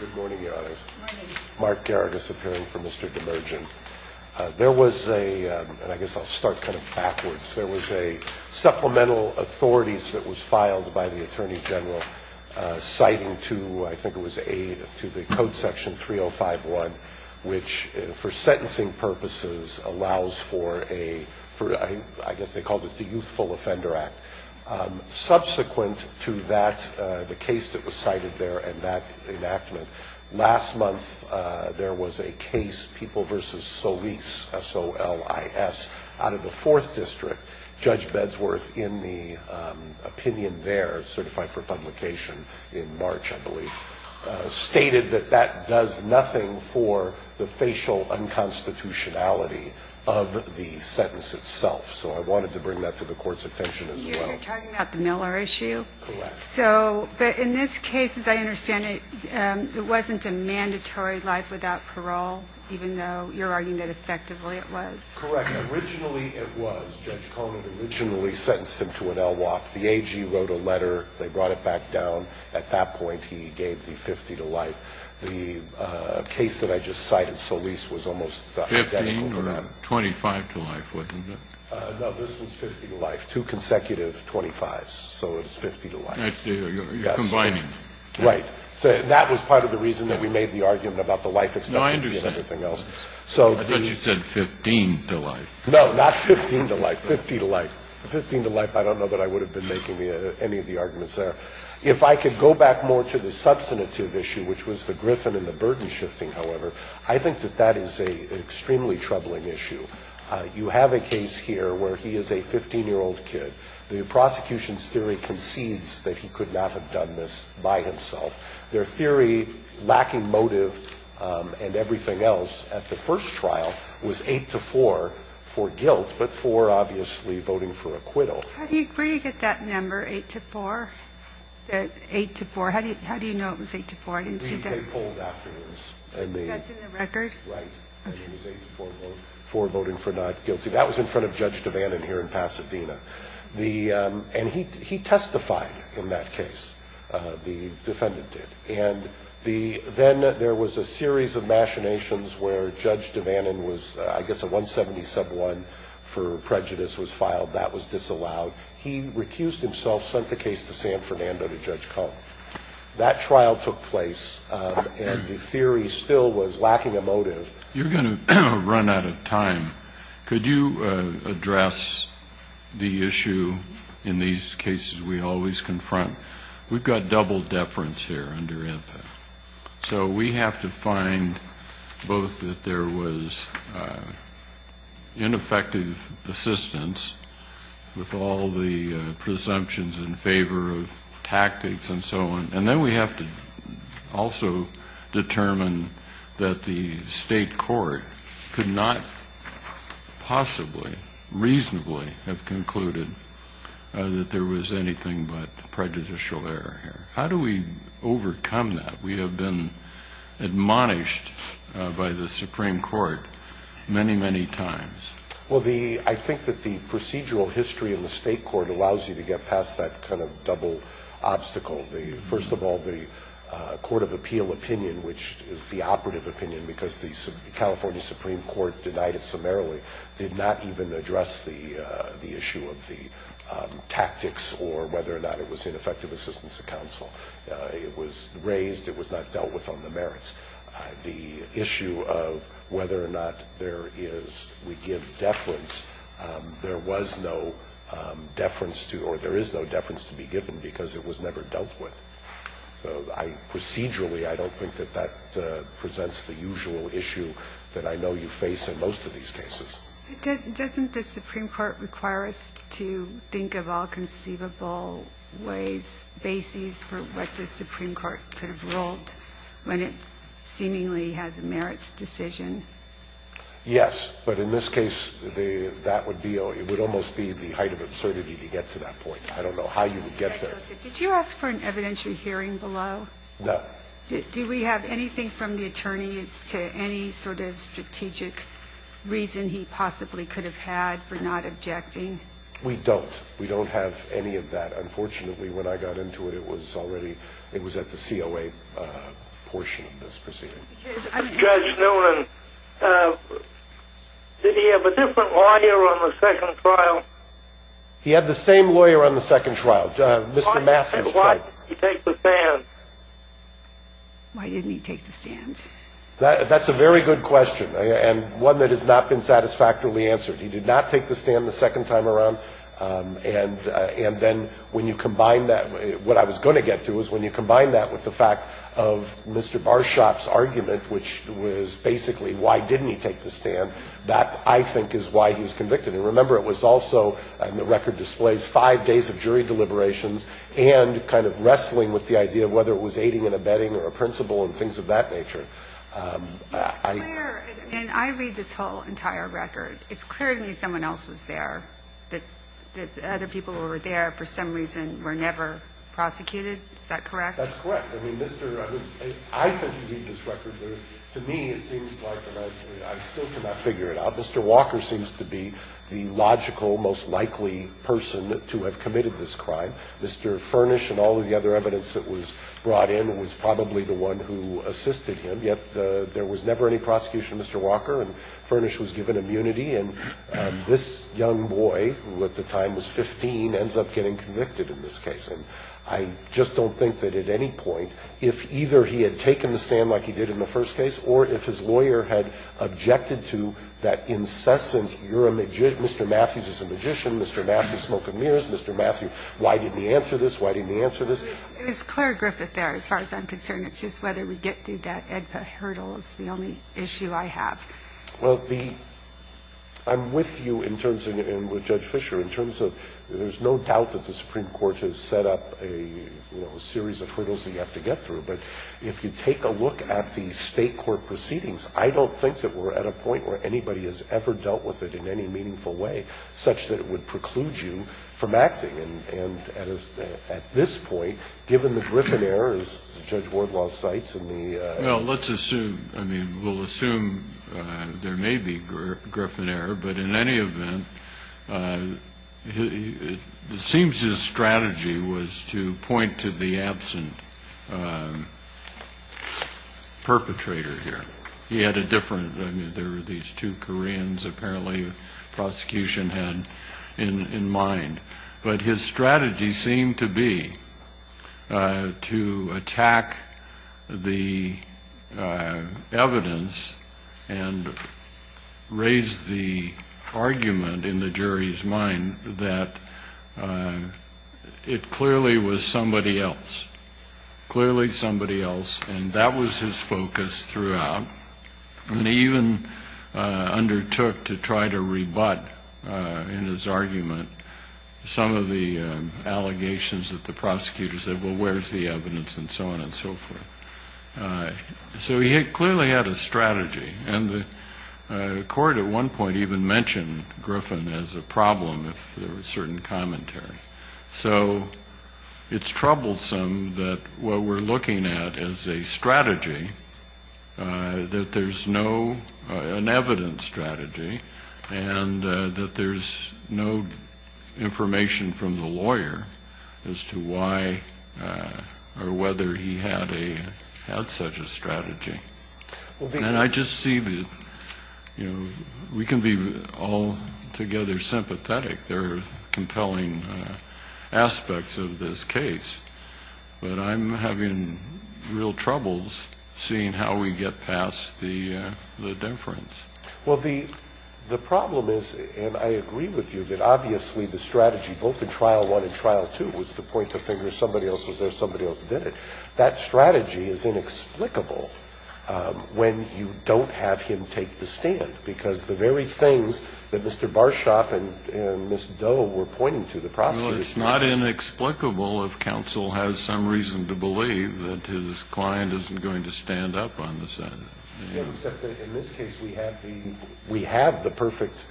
Good morning, Your Honors. Mark Garagos appearing for Mr. Demirdjian. There was a, and I guess I'll start kind of backwards, there was a supplemental authorities that was filed by the Attorney General citing to, I think it was to the Code Section 3051, which for sentencing purposes allows for a, I guess they called it the Youthful Offender Act. Subsequent to that, the case that was cited there and that enactment, last month there was a case, People v. Solis, S-O-L-I-S, out of the Fourth District. Judge Bedsworth, in the opinion there, certified for publication in March, I believe, stated that that does nothing for the facial unconstitutionality of the sentence itself. So I wanted to bring that to the Court's attention as well. You're talking about the Miller issue? Correct. So, but in this case, as I understand it, it wasn't a mandatory life without parole, even though you're arguing that effectively it was? Correct. Originally it was. Judge Conant originally sentenced him to an LWOP. The AG wrote a letter. They brought it back down. At that point, he gave the 50 to life. The case that I just cited, Solis, was almost identical to that. 25 to life, wasn't it? No, this was 50 to life. Two consecutive 25s, so it was 50 to life. You're combining them. Right. That was part of the reason that we made the argument about the life expectancy and everything else. No, I understand. I thought you said 15 to life. No, not 15 to life, 50 to life. 15 to life, I don't know that I would have been making any of the arguments there. If I could go back more to the substantive issue, which was the Griffin and the burden shifting, however, I think that that is an extremely troubling issue. You have a case here where he is a 15-year-old kid. The prosecution's theory concedes that he could not have done this by himself. Their theory, lacking motive and everything else, at the first trial was 8 to 4 for guilt, but 4, obviously, voting for acquittal. How do you get that number, 8 to 4? 8 to 4, how do you know it was 8 to 4? I didn't see that. That's in the record? Right. It was 8 to 4, voting for not guilty. That was in front of Judge Devanin here in Pasadena. And he testified in that case, the defendant did. And then there was a series of machinations where Judge Devanin was, I guess a 170 sub 1 for prejudice was filed. That was disallowed. He recused himself, sent the case to Sam Fernando to Judge Cohen. That trial took place, and the theory still was lacking a motive. You're going to run out of time. Could you address the issue in these cases we always confront? We've got double deference here under IPA. So we have to find both that there was ineffective assistance with all the presumptions in favor of tactics and so on, and then we have to also determine that the state court could not possibly reasonably have concluded that there was anything but prejudicial error here. How do we overcome that? We have been admonished by the Supreme Court many, many times. Well, I think that the procedural history in the state court allows you to get past that kind of double obstacle. First of all, the Court of Appeal opinion, which is the operative opinion because the California Supreme Court denied it summarily, did not even address the issue of the tactics or whether or not it was ineffective assistance to counsel. It was raised. It was not dealt with on the merits. The issue of whether or not there is, we give deference, there was no deference to, or there is no deference to be given because it was never dealt with. So I, procedurally, I don't think that that presents the usual issue that I know you face in most of these cases. Doesn't the Supreme Court require us to think of all conceivable ways, bases, for what the Supreme Court could have ruled when it seemingly has a merits decision? Yes. But in this case, that would be, it would almost be the height of absurdity to get to that point. I don't know how you would get there. Judge, did you ask for an evidentiary hearing below? No. Do we have anything from the attorneys to any sort of strategic reason he possibly could have had for not objecting? We don't. We don't have any of that. Unfortunately, when I got into it, it was already, it was at the COA portion of this proceeding. Judge Noonan, did he have a different lawyer on the second trial? He had the same lawyer on the second trial, Mr. Matthews. Why didn't he take the stand? Why didn't he take the stand? That's a very good question, and one that has not been satisfactorily answered. He did not take the stand the second time around, and then when you combine that, what I was going to get to is when you combine that with the fact of Mr. Barshoff's argument, which was basically why didn't he take the stand, that, I think, is why he was convicted. And remember, it was also, and the record displays, five days of jury deliberations and kind of wrestling with the idea of whether it was aiding and abetting or a principle and things of that nature. It's clear, and I read this whole entire record, it's clear to me someone else was there, that the other people who were there for some reason were never prosecuted. Is that correct? That's correct. I mean, Mr. I think he beat this record, but to me it seems like, and I still cannot figure it out, Mr. Walker seems to be the logical, most likely person to have committed this crime. Mr. Furnish and all of the other evidence that was brought in was probably the one who assisted him, yet there was never any prosecution of Mr. Walker, and Furnish was given immunity, and this young boy, who at the time was 15, ends up getting convicted in this case. And I just don't think that at any point, if either he had taken the stand like he did in the first case, or if his lawyer had objected to that incessant, you're a magician, Mr. Matthews is a magician, Mr. Matthews, smoke and mirrors, Mr. Matthews, why didn't he answer this, why didn't he answer this? It was Claire Griffith there, as far as I'm concerned. It's just whether we get through that AEDPA hurdle is the only issue I have. Well, the – I'm with you in terms of, and with Judge Fischer, in terms of there's no doubt that the Supreme Court has set up a, you know, a series of hurdles that you have to get through, but if you take a look at the State court proceedings, I don't think that we're at a point where anybody has ever dealt with it in any meaningful way such that it would preclude you from acting. And at this point, given the Griffin error, as Judge Wardlaw cites in the – Well, let's assume, I mean, we'll assume there may be Griffin error, but in any event, it seems his strategy was to point to the absent perpetrator here. He had a different – I mean, there were these two Koreans apparently the prosecution had in mind, but his strategy seemed to be to attack the evidence and raise the argument in the jury's mind that it clearly was somebody else, clearly somebody else, and that was his focus throughout, and he even undertook to try to rebut in his argument some of the allegations that the prosecutor said, well, where's the evidence, and so on and so forth. So he clearly had a strategy, and the court at one point even mentioned Griffin as a problem if there was certain commentary. So it's troublesome that what we're looking at is a strategy, that there's no – an evident strategy, and that there's no information from the lawyer as to why or whether he had such a strategy. And I just see that, you know, we can be altogether sympathetic, there are compelling aspects of this case, but I'm having real troubles seeing how we get past the difference. Well, the problem is, and I agree with you, that obviously the strategy, both in trial and in court, is to make the argument that it was somebody else who did it. That strategy is inexplicable when you don't have him take the stand, because the very things that Mr. Barshop and Ms. Doe were pointing to, the prosecutor's position. Well, it's not inexplicable if counsel has some reason to believe that his client isn't going to stand up on the Senate. Except that in this case we have the perfect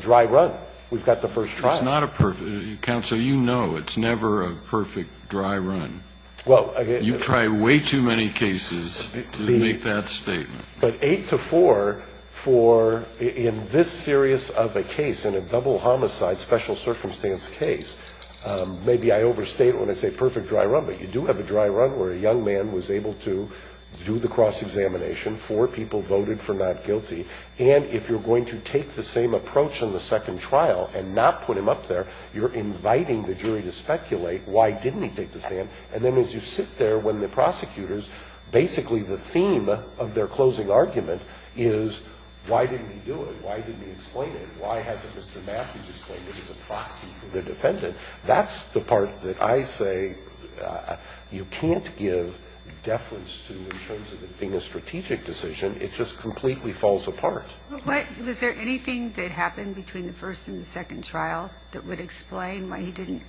dry run. We've got the first trial. It's not a perfect – counsel, you know it's never a perfect dry run. You try way too many cases to make that statement. But eight to four for, in this serious of a case, in a double homicide special circumstance case, maybe I overstate when I say perfect dry run, but you do have a dry run where a jury has a cross-examination, four people voted for not guilty, and if you're going to take the same approach in the second trial and not put him up there, you're inviting the jury to speculate why didn't he take the stand, and then as you sit there when the prosecutors, basically the theme of their closing argument is why didn't he do it, why didn't he explain it, why hasn't Mr. Matthews explained it as a proxy for the defendant. That's the part that I say you can't give deference to in terms of it being a strategic decision. It just completely falls apart. But was there anything that happened between the first and the second trial that would explain why he didn't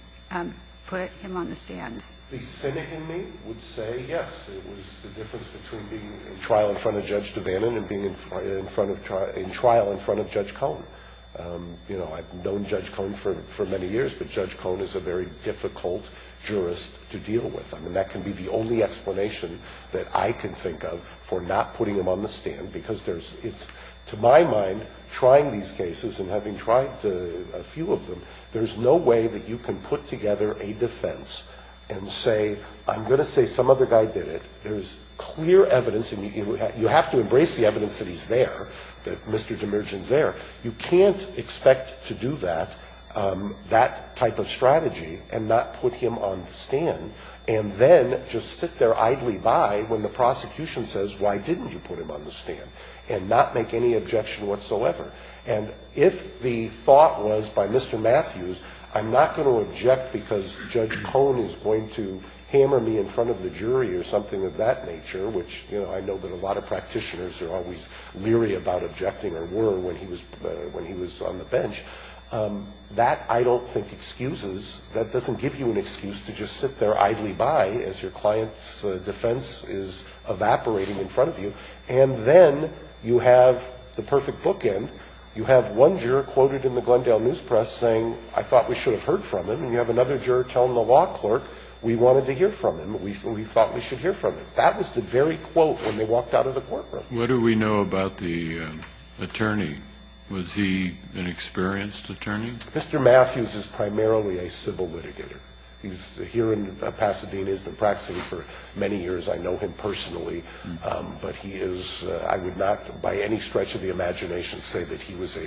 put him on the stand? The cynic in me would say yes, it was the difference between being in trial in front of Judge Devanin and being in trial in front of Judge Cohen. You know, I've known Judge Cohen for many years, but Judge Cohen is a very difficult jurist to deal with. I mean, that can be the only explanation that I can think of for not putting him on the stand, because it's, to my mind, trying these cases and having tried a few of them, there's no way that you can put together a defense and say, I'm going to say some other guy did it. There's clear evidence, and you have to embrace the evidence that he's there, that you can't expect to do that, that type of strategy and not put him on the stand, and then just sit there idly by when the prosecution says, why didn't you put him on the stand, and not make any objection whatsoever. And if the thought was by Mr. Matthews, I'm not going to object because Judge Cohen is going to hammer me in front of the jury or something of that nature, which I know that a lot of practitioners are always leery about objecting or were when he was on the bench. That, I don't think, excuses. That doesn't give you an excuse to just sit there idly by as your client's defense is evaporating in front of you. And then you have the perfect bookend. You have one juror quoted in the Glendale News Press saying, I thought we should have heard from him. And you have another juror telling the law clerk, we wanted to hear from him. We thought we should hear from him. That was the very quote when they walked out of the courtroom. What do we know about the attorney? Was he an experienced attorney? Mr. Matthews is primarily a civil litigator. He's here in Pasadena. He's been practicing for many years. I know him personally. But he is, I would not by any stretch of the imagination say that he was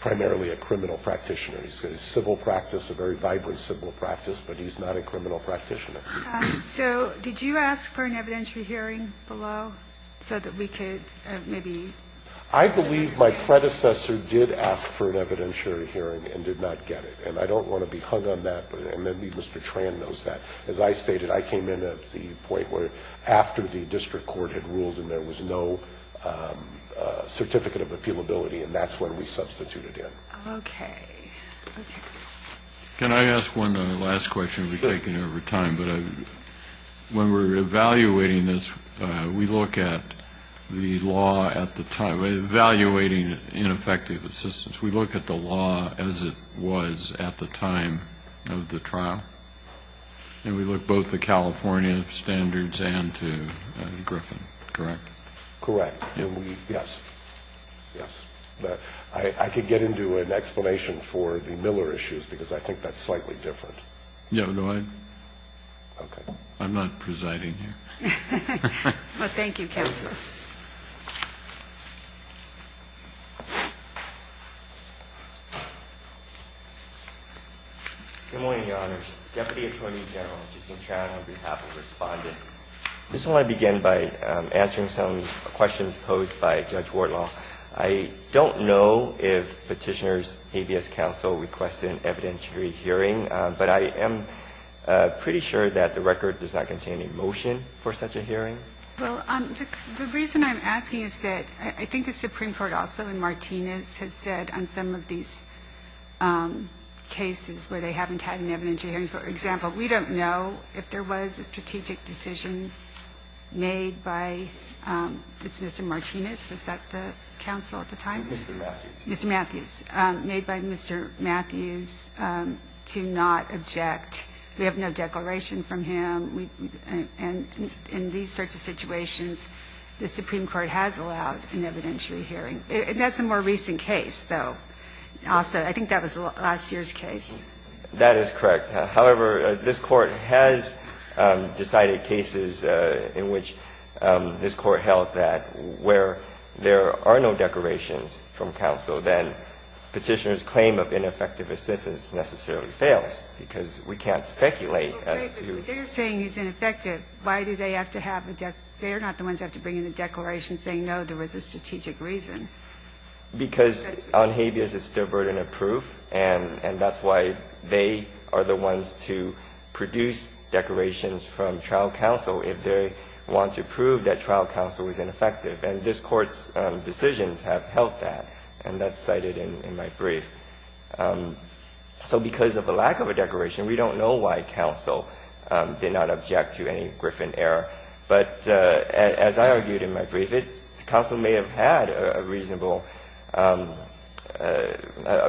primarily a criminal practitioner. He's got a civil practice, a very vibrant civil practice, but he's not a criminal practitioner. So did you ask for an evidentiary hearing below so that we could maybe? I believe my predecessor did ask for an evidentiary hearing and did not get it. And I don't want to be hung on that, and maybe Mr. Tran knows that. As I stated, I came in at the point where after the district court had ruled and there was no certificate of appealability, and that's when we substituted him. Okay. Okay. Can I ask one last question? Sure. This will be taken over time, but when we're evaluating this, we look at the law at the time, evaluating ineffective assistance, we look at the law as it was at the time of the trial, and we look both at the California standards and to Griffin, correct? Correct. Yes. Yes. I could get into an explanation for the Miller issues because I think that's slightly different. Yeah. No, I'm not presiding here. Well, thank you, counsel. Good morning, Your Honors. Deputy Attorney General Jason Tran on behalf of Respondent. I just want to begin by answering some questions posed by Judge Wardlaw. I don't know if Petitioner's ABS counsel requested an evidentiary hearing, but I am pretty sure that the record does not contain a motion for such a hearing. Well, the reason I'm asking is that I think the Supreme Court also in Martinez has said on some of these cases where they haven't had an evidentiary hearing, for example, we don't know if there was a strategic decision made by Mr. Martinez. Was that the counsel at the time? Mr. Matthews. Mr. Matthews. Made by Mr. Matthews to not object. We have no declaration from him. And in these sorts of situations, the Supreme Court has allowed an evidentiary hearing. That's a more recent case, though. Also, I think that was last year's case. That is correct. However, this Court has decided cases in which this Court held that where there are no declarations from counsel, then Petitioner's claim of ineffective assistance necessarily fails, because we can't speculate as to. But they're saying it's ineffective. Why do they have to have a declaration? They're not the ones that have to bring in a declaration saying, no, there was a strategic reason. Because on habeas it's the burden of proof, and that's why they are the ones to produce declarations from trial counsel if they want to prove that trial counsel is ineffective. And this Court's decisions have held that. And that's cited in my brief. So because of the lack of a declaration, we don't know why counsel did not object to any Griffin error. But as I argued in my brief, counsel may have had a reasonable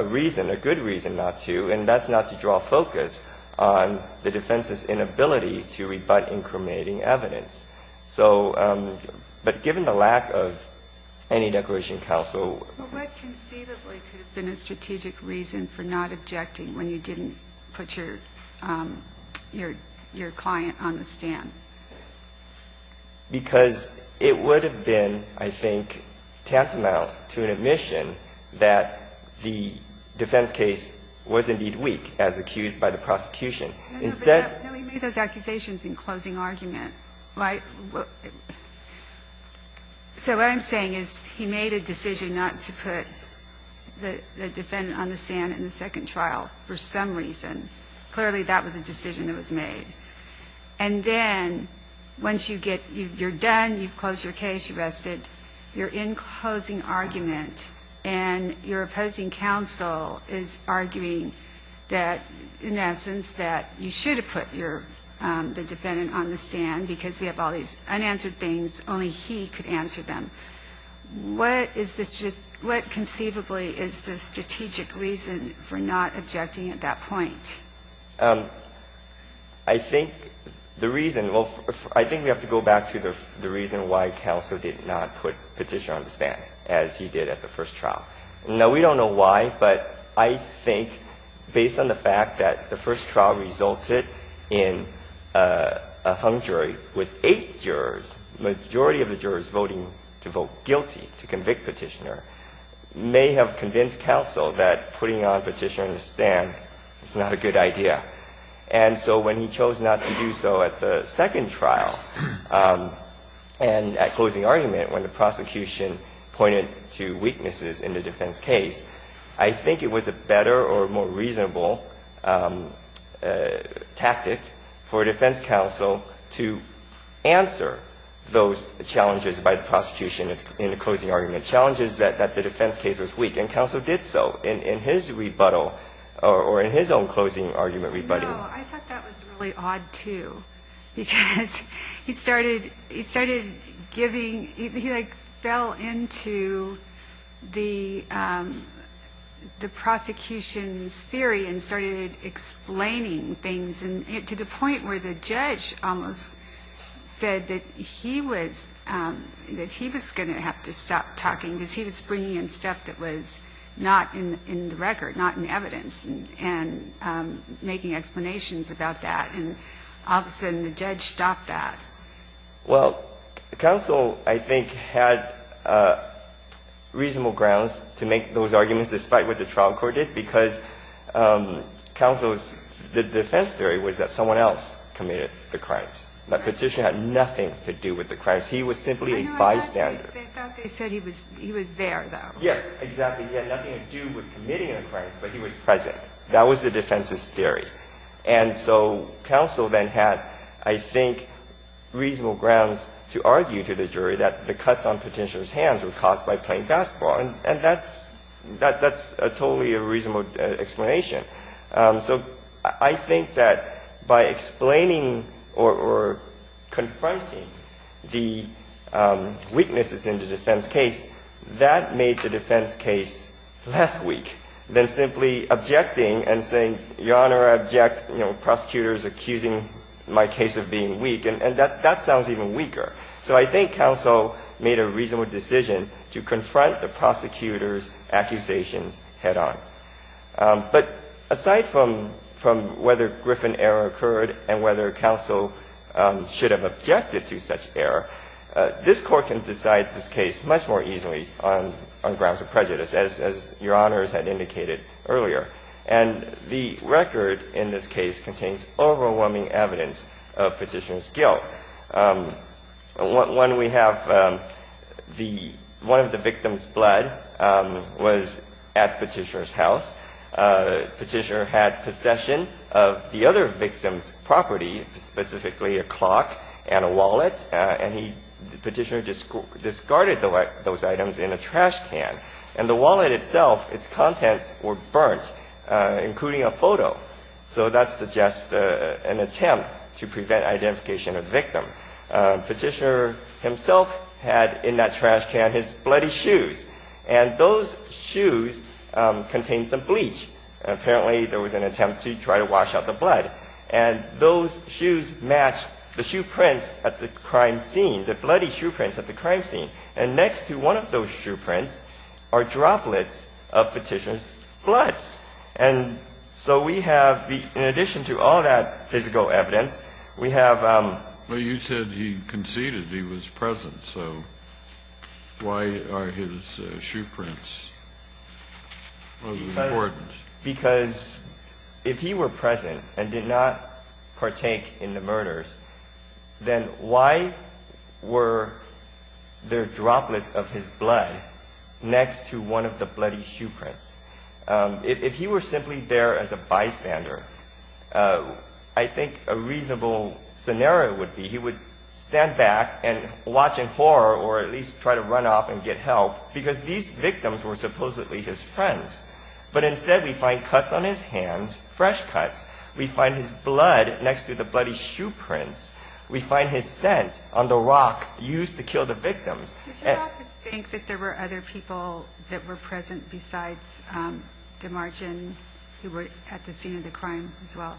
reason, a good reason not to, and that's not to draw focus on the defense's inability to rebut incriminating evidence. So, but given the lack of any declaration of counsel. But what conceivably could have been a strategic reason for not objecting when you didn't put your client on the stand? Because it would have been, I think, tantamount to an admission that the defense case was indeed weak as accused by the prosecution. Instead. Ginsburg. No, he made those accusations in closing argument. So what I'm saying is he made a decision not to put the defendant on the stand in the second trial for some reason. Clearly, that was a decision that was made. And then once you get you're done, you've closed your case, you're rested, you're in closing argument, and your opposing counsel is arguing that, in essence, that you should have put your, the defendant on the stand because we have all these unanswered things, only he could answer them. What is the, what conceivably is the strategic reason for not objecting at that point? I think the reason, well, I think we have to go back to the reason why counsel did not put Petitioner on the stand as he did at the first trial. Now, we don't know why, but I think based on the fact that the first trial resulted in a hung jury with eight jurors, the majority of the jurors voting to vote guilty to convict Petitioner may have convinced counsel that putting on Petitioner on the stand is not a good idea. And so when he chose not to do so at the second trial and at closing argument when the prosecution pointed to weaknesses in the defense case, I think it was a better or more reasonable tactic for a defense counsel to answer those challenges by the prosecution in the closing argument, challenges that the defense case was weak, and counsel did so in his rebuttal or in his own closing argument rebuttal. No, I thought that was really odd, too, because he started giving, he like fell into the prosecution's theory and started explaining things to the point where the judge almost said that he was going to have to stop talking because he was bringing in stuff that was not in the record, not in evidence, and making explanations about that. And all of a sudden the judge stopped that. Well, counsel, I think, had reasonable grounds to make those arguments despite what the trial court did because counsel's defense theory was that someone else committed the crimes. That Petitioner had nothing to do with the crimes. He was simply a bystander. I thought they said he was there, though. Yes, exactly. He had nothing to do with committing the crimes, but he was present. That was the defense's theory. And so counsel then had, I think, reasonable grounds to argue to the jury that the cuts on Petitioner's hands were caused by playing basketball, and that's totally a reasonable explanation. So I think that by explaining or confronting the weaknesses in the defense case, that made the defense case less weak than simply objecting and saying, Your Honor, I object prosecutors accusing my case of being weak. And that sounds even weaker. So I think counsel made a reasonable decision to confront the prosecutor's accusations head on. But aside from whether Griffin error occurred and whether counsel should have objected to such error, this Court can decide this case much more easily on grounds of prejudice, as Your Honors had indicated earlier. And the record in this case contains overwhelming evidence of Petitioner's guilt. When we have the one of the victims' blood was at Petitioner's house, Petitioner had possession of the other victim's property, specifically a clock and a wallet, and Petitioner discarded those items in a trash can. And the wallet itself, its contents were burnt, including a photo. So that suggests an attempt to prevent identification of the victim. Petitioner himself had in that trash can his bloody shoes, and those shoes contained some bleach. Apparently, there was an attempt to try to wash out the blood. And those shoes matched the shoe prints at the crime scene, the bloody shoe prints at the crime scene. And next to one of those shoe prints are droplets of Petitioner's blood. And so we have, in addition to all that physical evidence, we have the other evidence in this case. Kennedy. Well, you said he conceded he was present. So why are his shoe prints of importance? Because if he were present and did not partake in the murders, then why were there droplets of his blood next to one of the bloody shoe prints? If he were simply there as a bystander, I think a reasonable scenario would be he would stand back and watch in horror or at least try to run off and get help because these victims were supposedly his friends. But instead, we find cuts on his hands, fresh cuts. We find his blood next to the bloody shoe prints. We find his scent on the rock used to kill the victims. Does your office think that there were other people that were present besides DeMargin who were at the scene of the crime as well?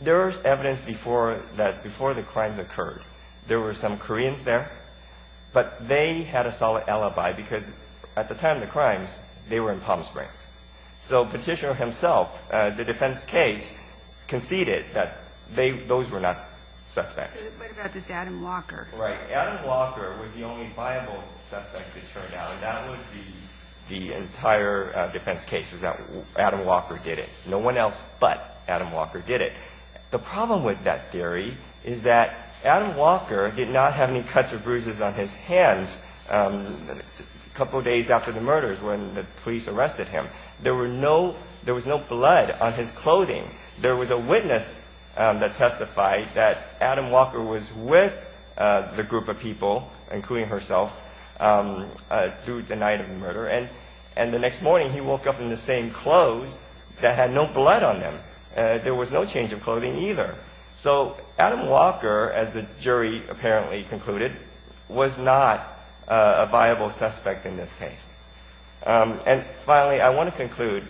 There is evidence that before the crimes occurred, there were some Koreans there. But they had a solid alibi because at the time of the crimes, they were in Palm Springs. So Petitioner himself, the defense case, conceded that those were not suspects. So what about this Adam Walker? Right. Adam Walker was the only viable suspect, it turned out. And that was the entire defense case, was that Adam Walker did it. No one else but Adam Walker did it. The problem with that theory is that Adam Walker did not have any cuts or bruises on his hands a couple of days after the murders when the police arrested him. There was no blood on his clothing. There was a witness that testified that Adam Walker was with the group of people, including herself, through the night of the murder. And the next morning, he woke up in the same clothes that had no blood on them. There was no change of clothing either. So Adam Walker, as the jury apparently concluded, was not a viable suspect in this case. And finally, I want to conclude.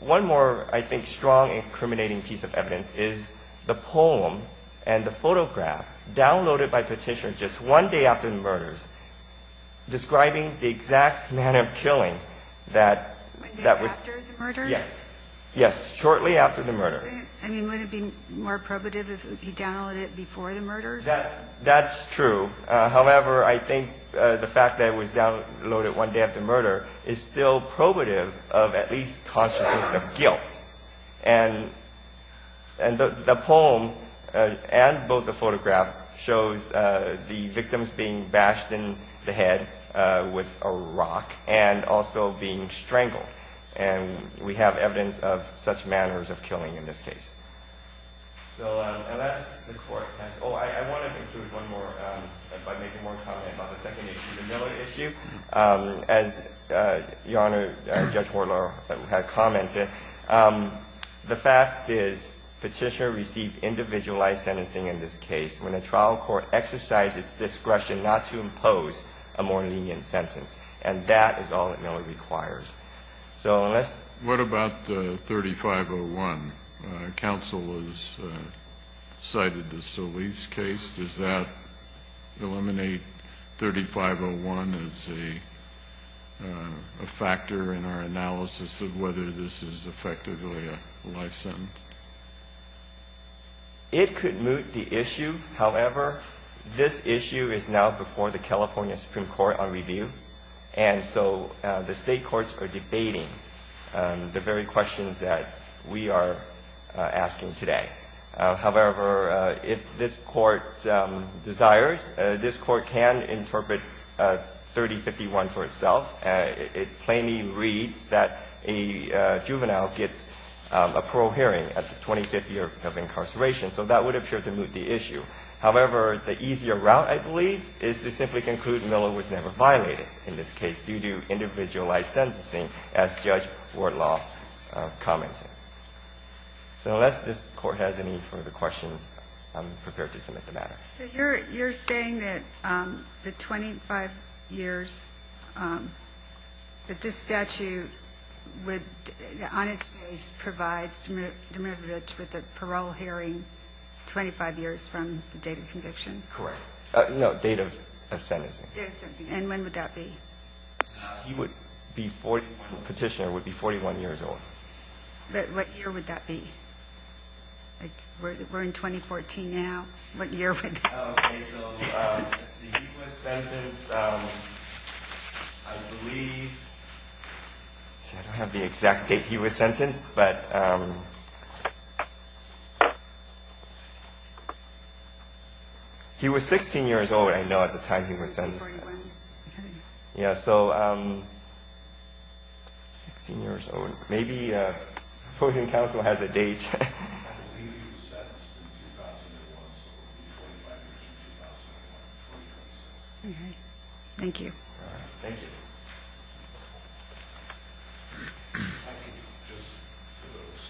One more, I think, strong and incriminating piece of evidence is the poem and the photograph downloaded by Petitioner just one day after the murders, describing the exact manner of killing that was One day after the murders? Yes, shortly after the murder. I mean, would it be more probative if he downloaded it before the murders? That's true. However, I think the fact that it was downloaded one day after the murder is still probative of at least consciousness of guilt. And the poem and both the photograph shows the victims being bashed in the head with a rock and also being strangled. And we have evidence of such manners of killing in this case. So that's the court. Oh, I want to conclude one more by making one more comment about the second issue, the Miller issue. As Your Honor, Judge Hortler had commented, the fact is Petitioner received individualized sentencing in this case when the trial court exercised its discretion not to impose a more lenient sentence. And that is all that Miller requires. What about 3501? Counsel has cited the Solis case. Does that eliminate 3501 as a factor in our analysis of whether this is effectively a life sentence? It could moot the issue. However, this issue is now before the California Supreme Court on review. And so the state courts are debating the very questions that we are asking today. However, if this court desires, this court can interpret 3051 for itself. It plainly reads that a juvenile gets a parole hearing at the 25th year of incarceration. So that would appear to moot the issue. However, the easier route, I believe, is to simply conclude Miller was never violated in this case due to individualized sentencing, as Judge Hortler commented. So unless this court has any further questions, I'm prepared to submit the matter. So you're saying that the 25 years that this statute would, on its face, provides to moot the privilege with a parole hearing, 25 years from the date of conviction? Correct. No, date of sentencing. Date of sentencing. And when would that be? Petitioner would be 41 years old. But what year would that be? We're in 2014 now. What year would that be? Okay. So he was sentenced, I believe. I don't have the exact date he was sentenced, but he was 16 years old, I know, at the time he was sentenced. Yeah, so 16 years old. Maybe the opposing counsel has a date. I believe he was sentenced in 2001, so it would be 25 years from 2001, 2026. Okay. Thank you. Thank you. I can just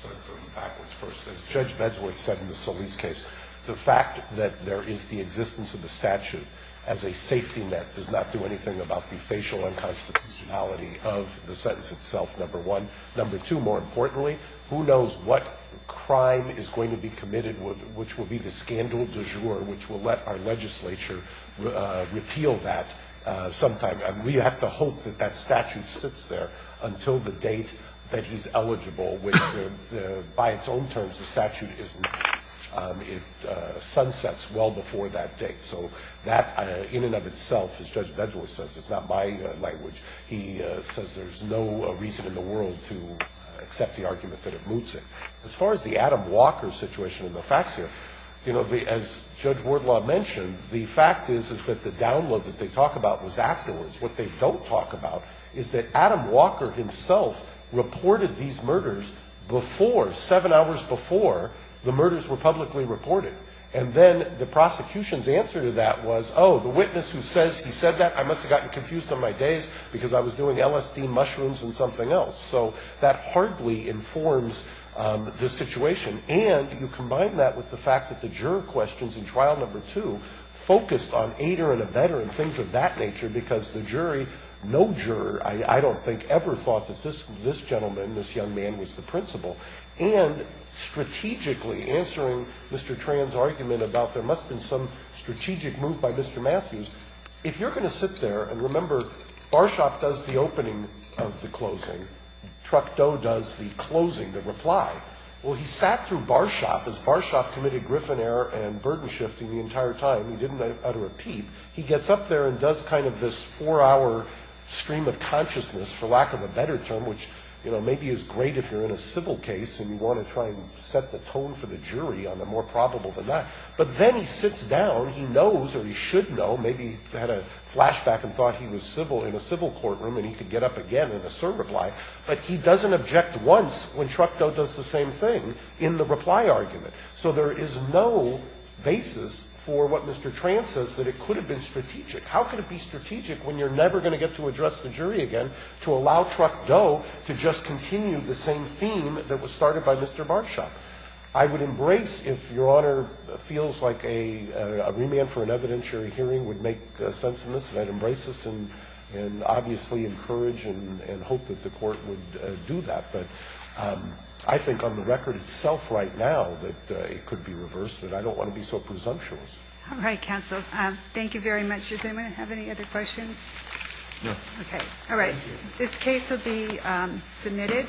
start from backwards first. As Judge Bedsworth said in the Solis case, the fact that there is the existence of the statute as a safety net does not do anything about the facial unconstitutionality of the sentence itself, number one. Number two, more importantly, who knows what crime is going to be committed, which will be the scandal du jour, which will let our legislature repeal that sometime. We have to hope that that statute sits there until the date that he's eligible, which by its own terms, the statute is not. It sunsets well before that date. So that in and of itself, as Judge Bedsworth says, it's not my language. He says there's no reason in the world to accept the argument that it moots it. As far as the Adam Walker situation and the facts here, you know, as Judge Wardlaw mentioned, the fact is, is that the download that they talk about was afterwards. What they don't talk about is that Adam Walker himself reported these murders before, seven hours before the murders were publicly reported. And then the prosecution's answer to that was, oh, the witness who says he said that, I must have gotten confused on my days because I was doing LSD mushrooms and something else. So that hardly informs the situation. And you combine that with the fact that the juror questions in trial number two focused on ater and abetter and things of that nature, because the jury, no juror, I don't think ever thought that this gentleman, this young man, was the principal. And strategically, answering Mr. Tran's argument about there must have been some bar shop does the opening of the closing. Truck Doe does the closing, the reply. Well, he sat through bar shop. As bar shop committed Griffin error and burden shifting the entire time, he didn't utter a peep. He gets up there and does kind of this four-hour stream of consciousness, for lack of a better term, which, you know, maybe is great if you're in a civil case and you want to try and set the tone for the jury on the more probable than that. But then he sits down. He knows, or he should know, maybe had a flashback and thought he was civil in a civil courtroom and he could get up again and assert reply. But he doesn't object once when Truck Doe does the same thing in the reply argument. So there is no basis for what Mr. Tran says, that it could have been strategic. How could it be strategic when you're never going to get to address the jury again to allow Truck Doe to just continue the same theme that was started by Mr. Bar Shop? I would embrace if Your Honor feels like a remand for an evidentiary hearing would make sense in this, and I'd embrace this and obviously encourage and hope that the court would do that. But I think on the record itself right now that it could be reversed, but I don't want to be so presumptuous. All right, counsel. Thank you very much. Does anyone have any other questions? No. Okay. All right. This case will be submitted.